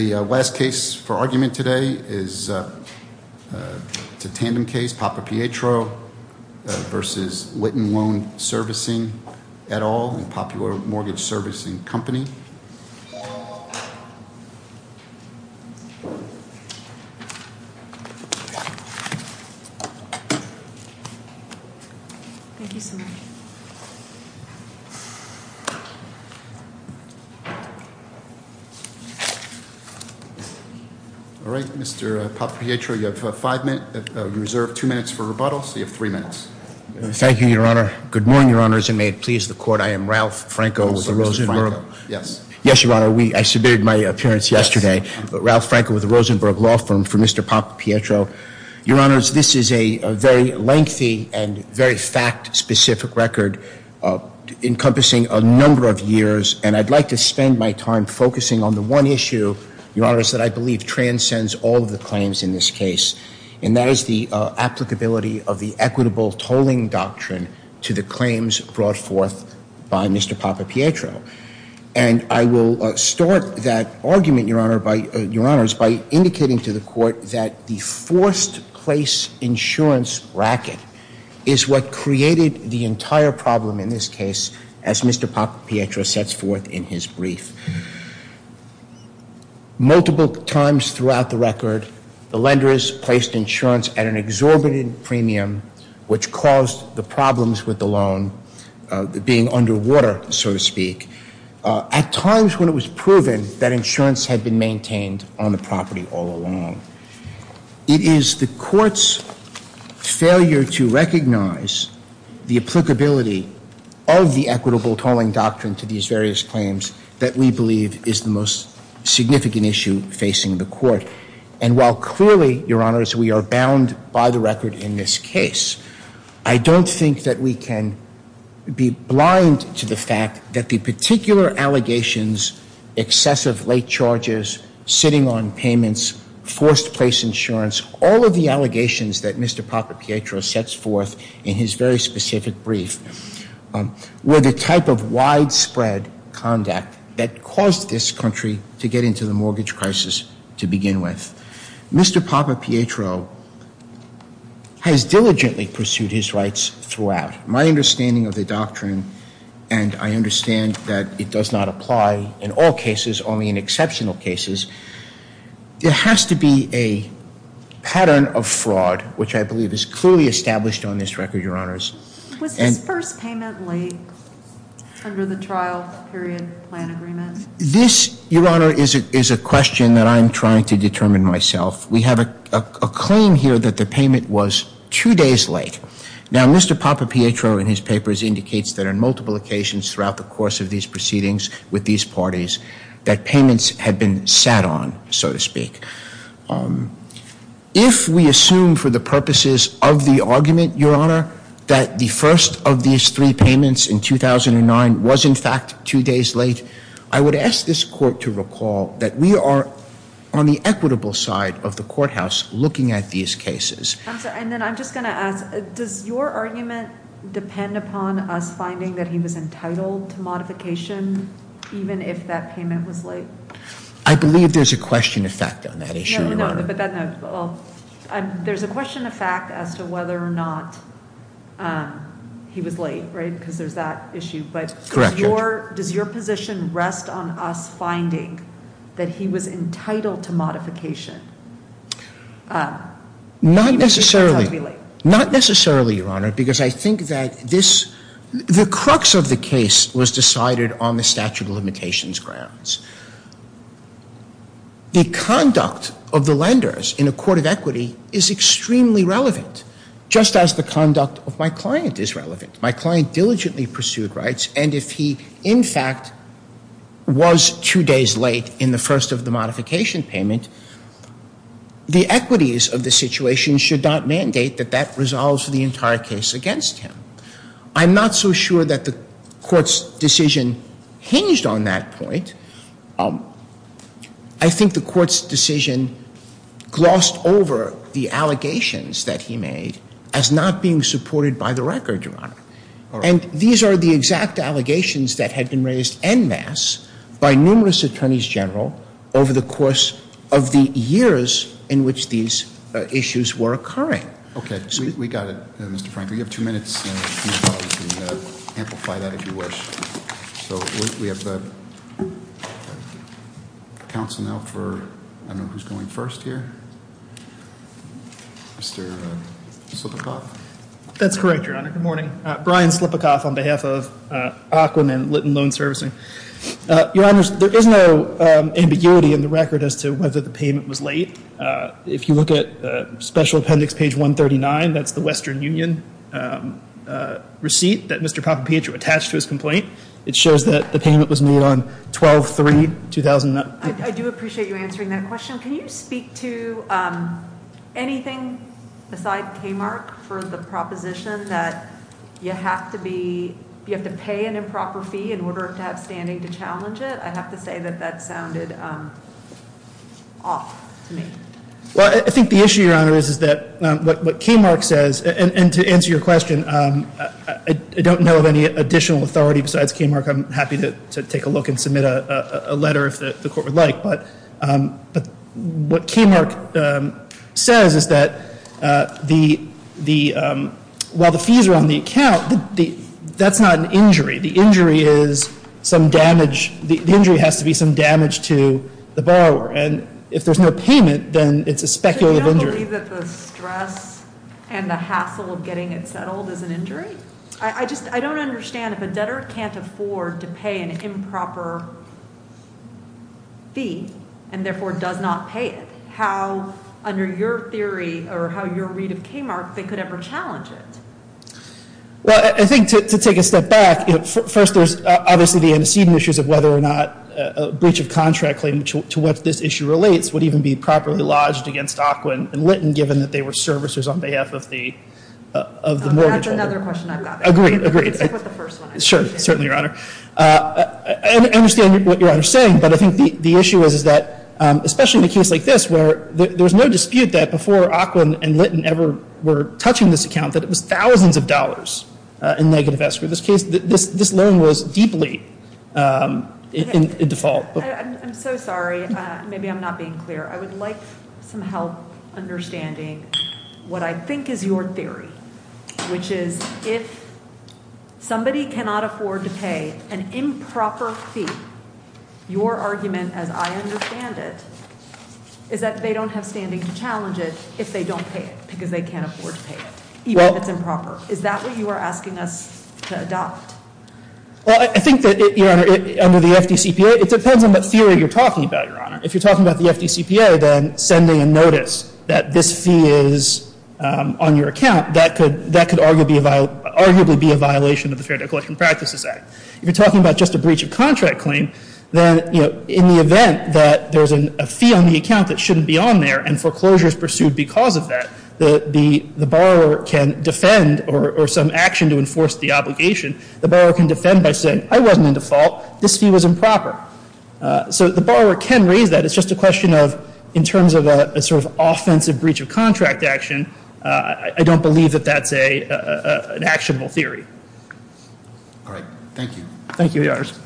The last case for argument today is a tandem case, Papapietro v. Whitten Loan Servicing et al. in Popular Mortgage Servicing Company All right, Mr. Papapietro, you have five minutes, you reserved two minutes for rebuttal, so you have three minutes. Thank you, Your Honor. Good Afternoon, Mr. Papapietro, I am Ralph Franco with the Rosenberg Law Firm for Mr. Papapietro. Your Honor, this is a very lengthy and very fact-specific record, encompassing a number of years, and I'd like to spend my time focusing on the one issue, Your Honor, that I believe transcends all of the claims in this case, and that is the applicability of the equitable tolling doctrine to the claims brought forth by Mr. Papapietro. And I will start that argument, Your Honor, by indicating to the Court that the forced-place insurance bracket is what created the entire problem in this case, as Mr. Papapietro sets forth in his brief. Multiple times throughout the record, the lenders placed insurance at an exorbitant premium, which caused the problems with the loan being underwater, so to speak, at times when it was proven that insurance had been maintained on the property all along. It is the Court's failure to recognize the applicability of the equitable tolling doctrine to these various claims that we believe is the most significant issue facing the Court. And while clearly, Your Honor, we are bound by the record in this case, I don't think that we can be blind to the fact that the particular allegations, excessive late charges, sitting on payments, forced-place insurance, all of the allegations that Mr. Papapietro sets forth in his very specific brief, were the type of widespread conduct that caused this country to get into the mortgage crisis to begin with. Mr. Papapietro has diligently pursued his rights throughout. My understanding of the doctrine, and I understand that it does not apply in all cases, only in exceptional cases, there has to be a pattern of fraud, which I believe is clearly established on this record, Your Honors. Was this first payment late under the trial period plan agreement? This, Your Honor, is a question that I'm trying to determine myself. We have a claim here that the payment was two days late. Now, Mr. Papapietro in his papers indicates that on multiple occasions throughout the course of these proceedings with these parties, that payments had been sat on, so to speak. If we assume for the purposes of the argument, Your Honor, that the first of these three payments in 2009 was in fact two days late, I would ask this court to recall that we are on the equitable side of the courthouse looking at these cases. I'm sorry, and then I'm just going to ask, does your argument depend upon us finding that he was entitled to modification, even if that payment was late? I believe there's a question of fact on that issue, Your Honor. But then, there's a question of fact as to whether or not he was late, right, because there's that issue. But does your position rest on us finding that he was entitled to modification? Not necessarily, Your Honor, because I think that this, the crux of the case was decided on the statute of offenders in a court of equity is extremely relevant, just as the conduct of my client is relevant. My client diligently pursued rights, and if he, in fact, was two days late in the first of the modification payment, the equities of the situation should not mandate that that resolves the entire case against him. I'm not so sure that the court's decision hinged on that point. I think the court's decision glossed over the allegations that he made as not being supported by the record, Your Honor. And these are the exact allegations that had been raised en masse by numerous attorneys general over the course of the years in which these issues were occurring. Okay, we got it, Mr. Frank. We have two minutes, and we can amplify that if you wish. So we have the counsel now for, I don't know who's going first here. Mr. Slipakoff? That's correct, Your Honor. Good morning. Brian Slipakoff on behalf of AQUIN and Litton Loan Servicing. Your Honors, there is no ambiguity in the record as to whether the payment was late. If you look at special appendix page 139, that's the Western Union receipt that Mr. It shows that the payment was made on 12-3-2009. I do appreciate you answering that question. Can you speak to anything aside K-Mark for the proposition that you have to pay an improper fee in order to have standing to challenge it? I have to say that that sounded off to me. Well, I think the issue, Your Honor, is that what K-Mark says, and to answer your question, I don't know of any additional authority besides K-Mark. I'm happy to take a look and submit a letter if the court would like. But what K-Mark says is that while the fees are on the account, that's not an injury. The injury has to be some damage to the borrower. And if there's no payment, then it's a speculative injury. I believe that the stress and the hassle of getting it settled is an injury. I just, I don't understand if a debtor can't afford to pay an improper fee, and therefore does not pay it. How, under your theory, or how your read of K-Mark, they could ever challenge it? Well, I think to take a step back, first there's obviously the antecedent issues of whether or not a breach of contract claim to what this issue relates would even be properly lodged against Aquin and Litton, given that they were servicers on behalf of the mortgage holder. That's another question I've got. Agreed, agreed. Except with the first one. Sure, certainly, Your Honor. I understand what Your Honor's saying, but I think the issue is that, especially in a case like this, where there's no dispute that before Aquin and Litton ever were touching this account, that it was thousands of dollars in negative escrow. In this case, this loan was deeply in default. I'm so sorry, maybe I'm not being clear. I would like some help understanding what I think is your theory, which is if somebody cannot afford to pay an improper fee, your argument as I understand it, is that they don't have standing to challenge it if they don't pay it, because they can't afford to pay it, even if it's improper. Is that what you are asking us to adopt? Well, I think that, Your Honor, under the FDCPA, it depends on what theory you're talking about, Your Honor. If you're talking about the FDCPA, then sending a notice that this fee is on your account, that could arguably be a violation of the Fair Debt Collection Practices Act. If you're talking about just a breach of contract claim, then in the event that there's a fee on the account that shouldn't be on there and foreclosure is pursued because of that, the borrower can defend or some action to enforce the obligation. The borrower can defend by saying, I wasn't in default. This fee was improper. So the borrower can raise that. It's just a question of, in terms of a sort of offensive breach of contract action. I don't believe that that's an actionable theory. All right, thank you. Thank you, Your Honors.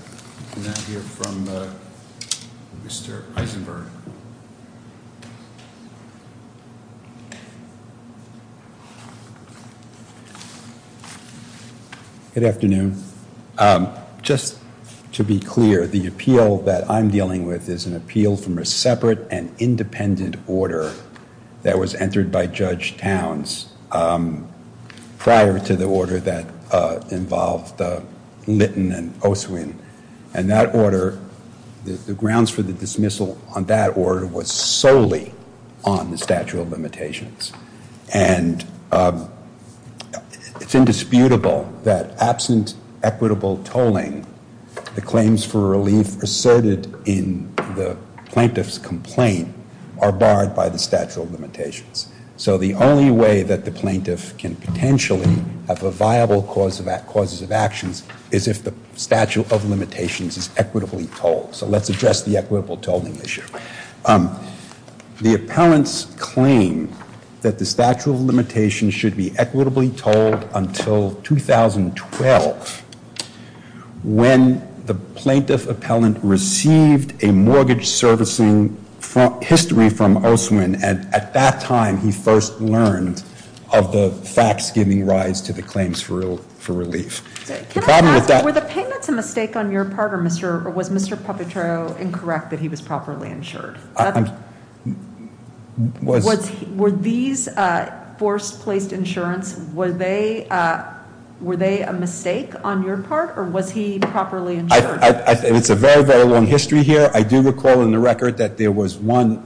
We now hear from Mr. Eisenberg. Good afternoon. Just to be clear, the appeal that I'm dealing with is an appeal from a separate and independent order that was entered by Judge Towns prior to the order that involved Litton and Oswin. And that order, the grounds for the dismissal on that order was solely on the statute of limitations. And it's indisputable that absent equitable tolling, the claims for relief asserted in the plaintiff's complaint are barred by the statute of limitations. So the only way that the plaintiff can potentially have a viable cause of actions is if the statute of limitations is equitably tolled. So let's address the equitable tolling issue. The appellant's claim that the statute of limitations should be equitably tolled until 2012 when the plaintiff appellant received a mortgage servicing history from Oswin. And at that time, he first learned of the facts giving rise to the claims for relief. The problem with that- Were the payments a mistake on your part, or was Mr. Puppetro incorrect that he was properly insured? Were these forced placed insurance, were they a mistake on your part, or was he properly insured? It's a very, very long history here. I do recall in the record that there was one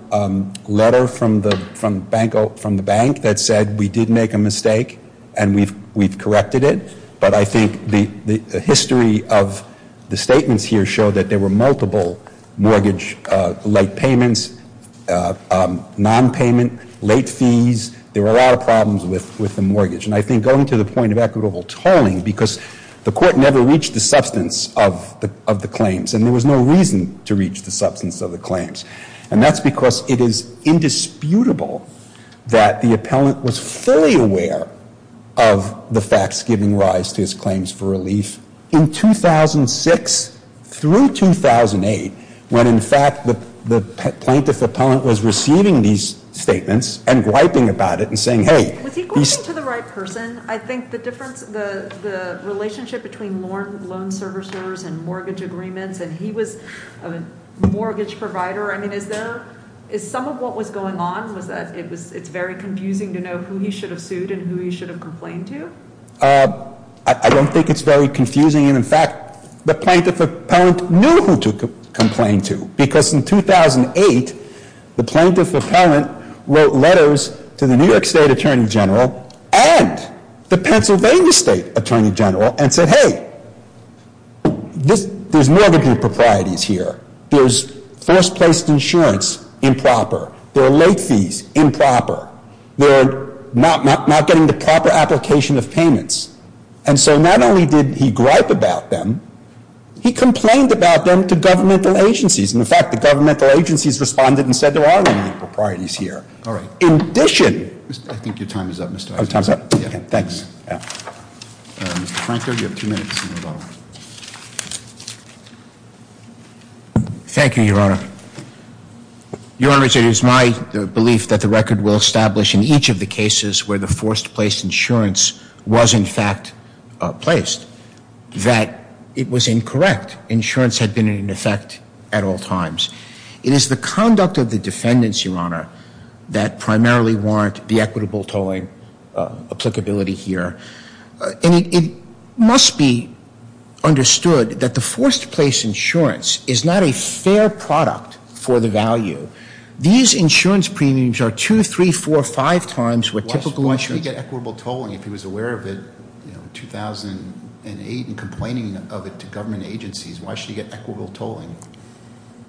letter from the bank that said we did make a mistake and we've corrected it. But I think the history of the statements here show that there were multiple mortgage late payments, nonpayment, late fees. There were a lot of problems with the mortgage. And I think going to the point of equitable tolling, because the court never reached the substance of the claims. And there was no reason to reach the substance of the claims. And that's because it is indisputable that the appellant was fully aware of the facts giving rise to his claims for relief. In 2006 through 2008, when in fact the plaintiff appellant was receiving these statements and griping about it and saying, hey- Was he griping to the right person? I think the difference, the relationship between loan servicers and mortgage agreements, and he was a mortgage provider, I mean, is there, is some of what was going on, was that it's very confusing to know who he should have sued and who he should have complained to? I don't think it's very confusing, and in fact, the plaintiff appellant knew who to complain to. Because in 2008, the plaintiff appellant wrote letters to the New York State Attorney General and the Pennsylvania State Attorney General and said, hey, there's mortgage proprieties here. There's first place insurance improper. There are late fees improper. They're not getting the proper application of payments. And so not only did he gripe about them, he complained about them to governmental agencies. And in fact, the governmental agencies responded and said there are no new proprieties here. All right. In addition- I think your time is up, Mr. Eisenhower. Oh, time's up? Yeah. Thanks. Yeah. Mr. Franco, you have two minutes to move on. Thank you, Your Honor. Your Honor, it is my belief that the record will establish in each of the cases where the first place insurance was, in fact, placed, that it was incorrect. Insurance had been in effect at all times. It is the conduct of the defendants, Your Honor, that primarily warrant the equitable tolling applicability here. And it must be understood that the first place insurance is not a fair product for the value. These insurance premiums are two, three, four, five times what typical insurance- Why should he get equitable tolling if he was aware of it in 2008 and complaining of it to government agencies? Why should he get equitable tolling?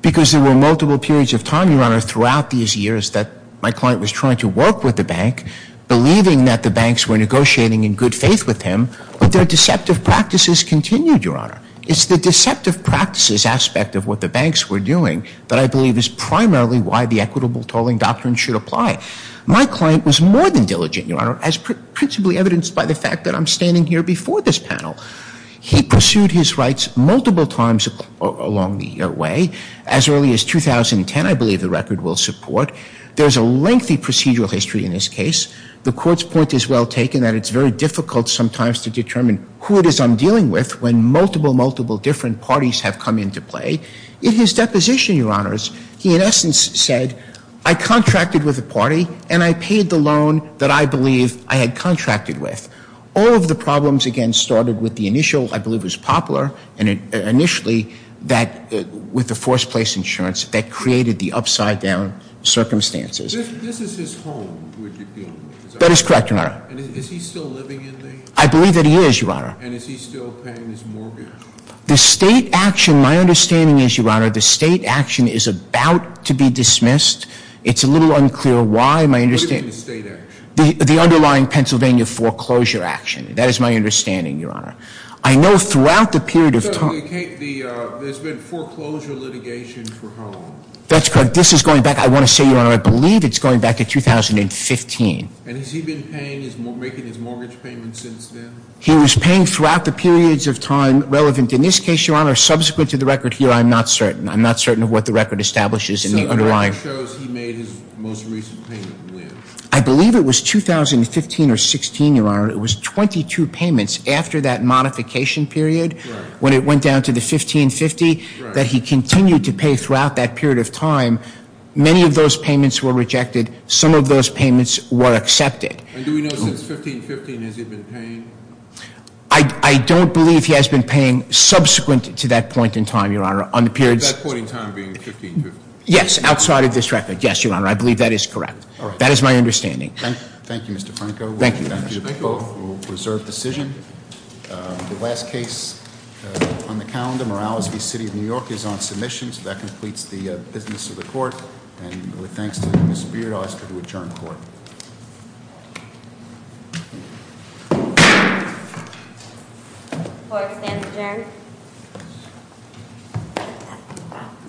Because there were multiple periods of time, Your Honor, throughout these years that my client was trying to work with the bank, believing that the banks were negotiating in good faith with him, but their deceptive practices continued, Your Honor. It's the deceptive practices aspect of what the banks were doing that I believe is primarily why the equitable tolling doctrine should apply. My client was more than diligent, Your Honor, as principally evidenced by the fact that I'm standing here before this panel. He pursued his rights multiple times along the way. As early as 2010, I believe the record will support. There's a lengthy procedural history in this case. The court's point is well taken that it's very difficult sometimes to determine who it is I'm dealing with when multiple, multiple different parties have come into play. In his deposition, Your Honors, he in essence said, I contracted with a party and I paid the loan that I believe I had contracted with. All of the problems, again, started with the initial, I believe it was Poplar, and initially with the forced place insurance that created the upside down circumstances. This is his home, would you feel? That is correct, Your Honor. And is he still living in there? I believe that he is, Your Honor. And is he still paying his mortgage? The state action, my understanding is, Your Honor, the state action is about to be dismissed. It's a little unclear why. My understanding- What do you mean the state action? The underlying Pennsylvania foreclosure action. That is my understanding, Your Honor. I know throughout the period of time- Okay, there's been foreclosure litigation for home. That's correct. This is going back, I want to say, Your Honor, I believe it's going back to 2015. And has he been making his mortgage payments since then? He was paying throughout the periods of time relevant. In this case, Your Honor, subsequent to the record here, I'm not certain. I'm not certain of what the record establishes in the underlying- So the record shows he made his most recent payment when? I believe it was 2015 or 16, Your Honor. It was 22 payments after that modification period when it went down to the 1550 that he continued to pay throughout that period of time. Many of those payments were rejected. Some of those payments were accepted. And do we know since 1515, has he been paying? I don't believe he has been paying subsequent to that point in time, Your Honor. On the periods- That point in time being 1515? Yes, outside of this record. Yes, Your Honor, I believe that is correct. That is my understanding. Thank you, Mr. Franco. Thank you, Mr. Franco. We will reserve decision. The last case on the calendar, Morales v. City of New York, is on submission. So that completes the business of the court. And with thanks to Ms. Beard, I ask for the adjournment of the court. The court stands adjourned.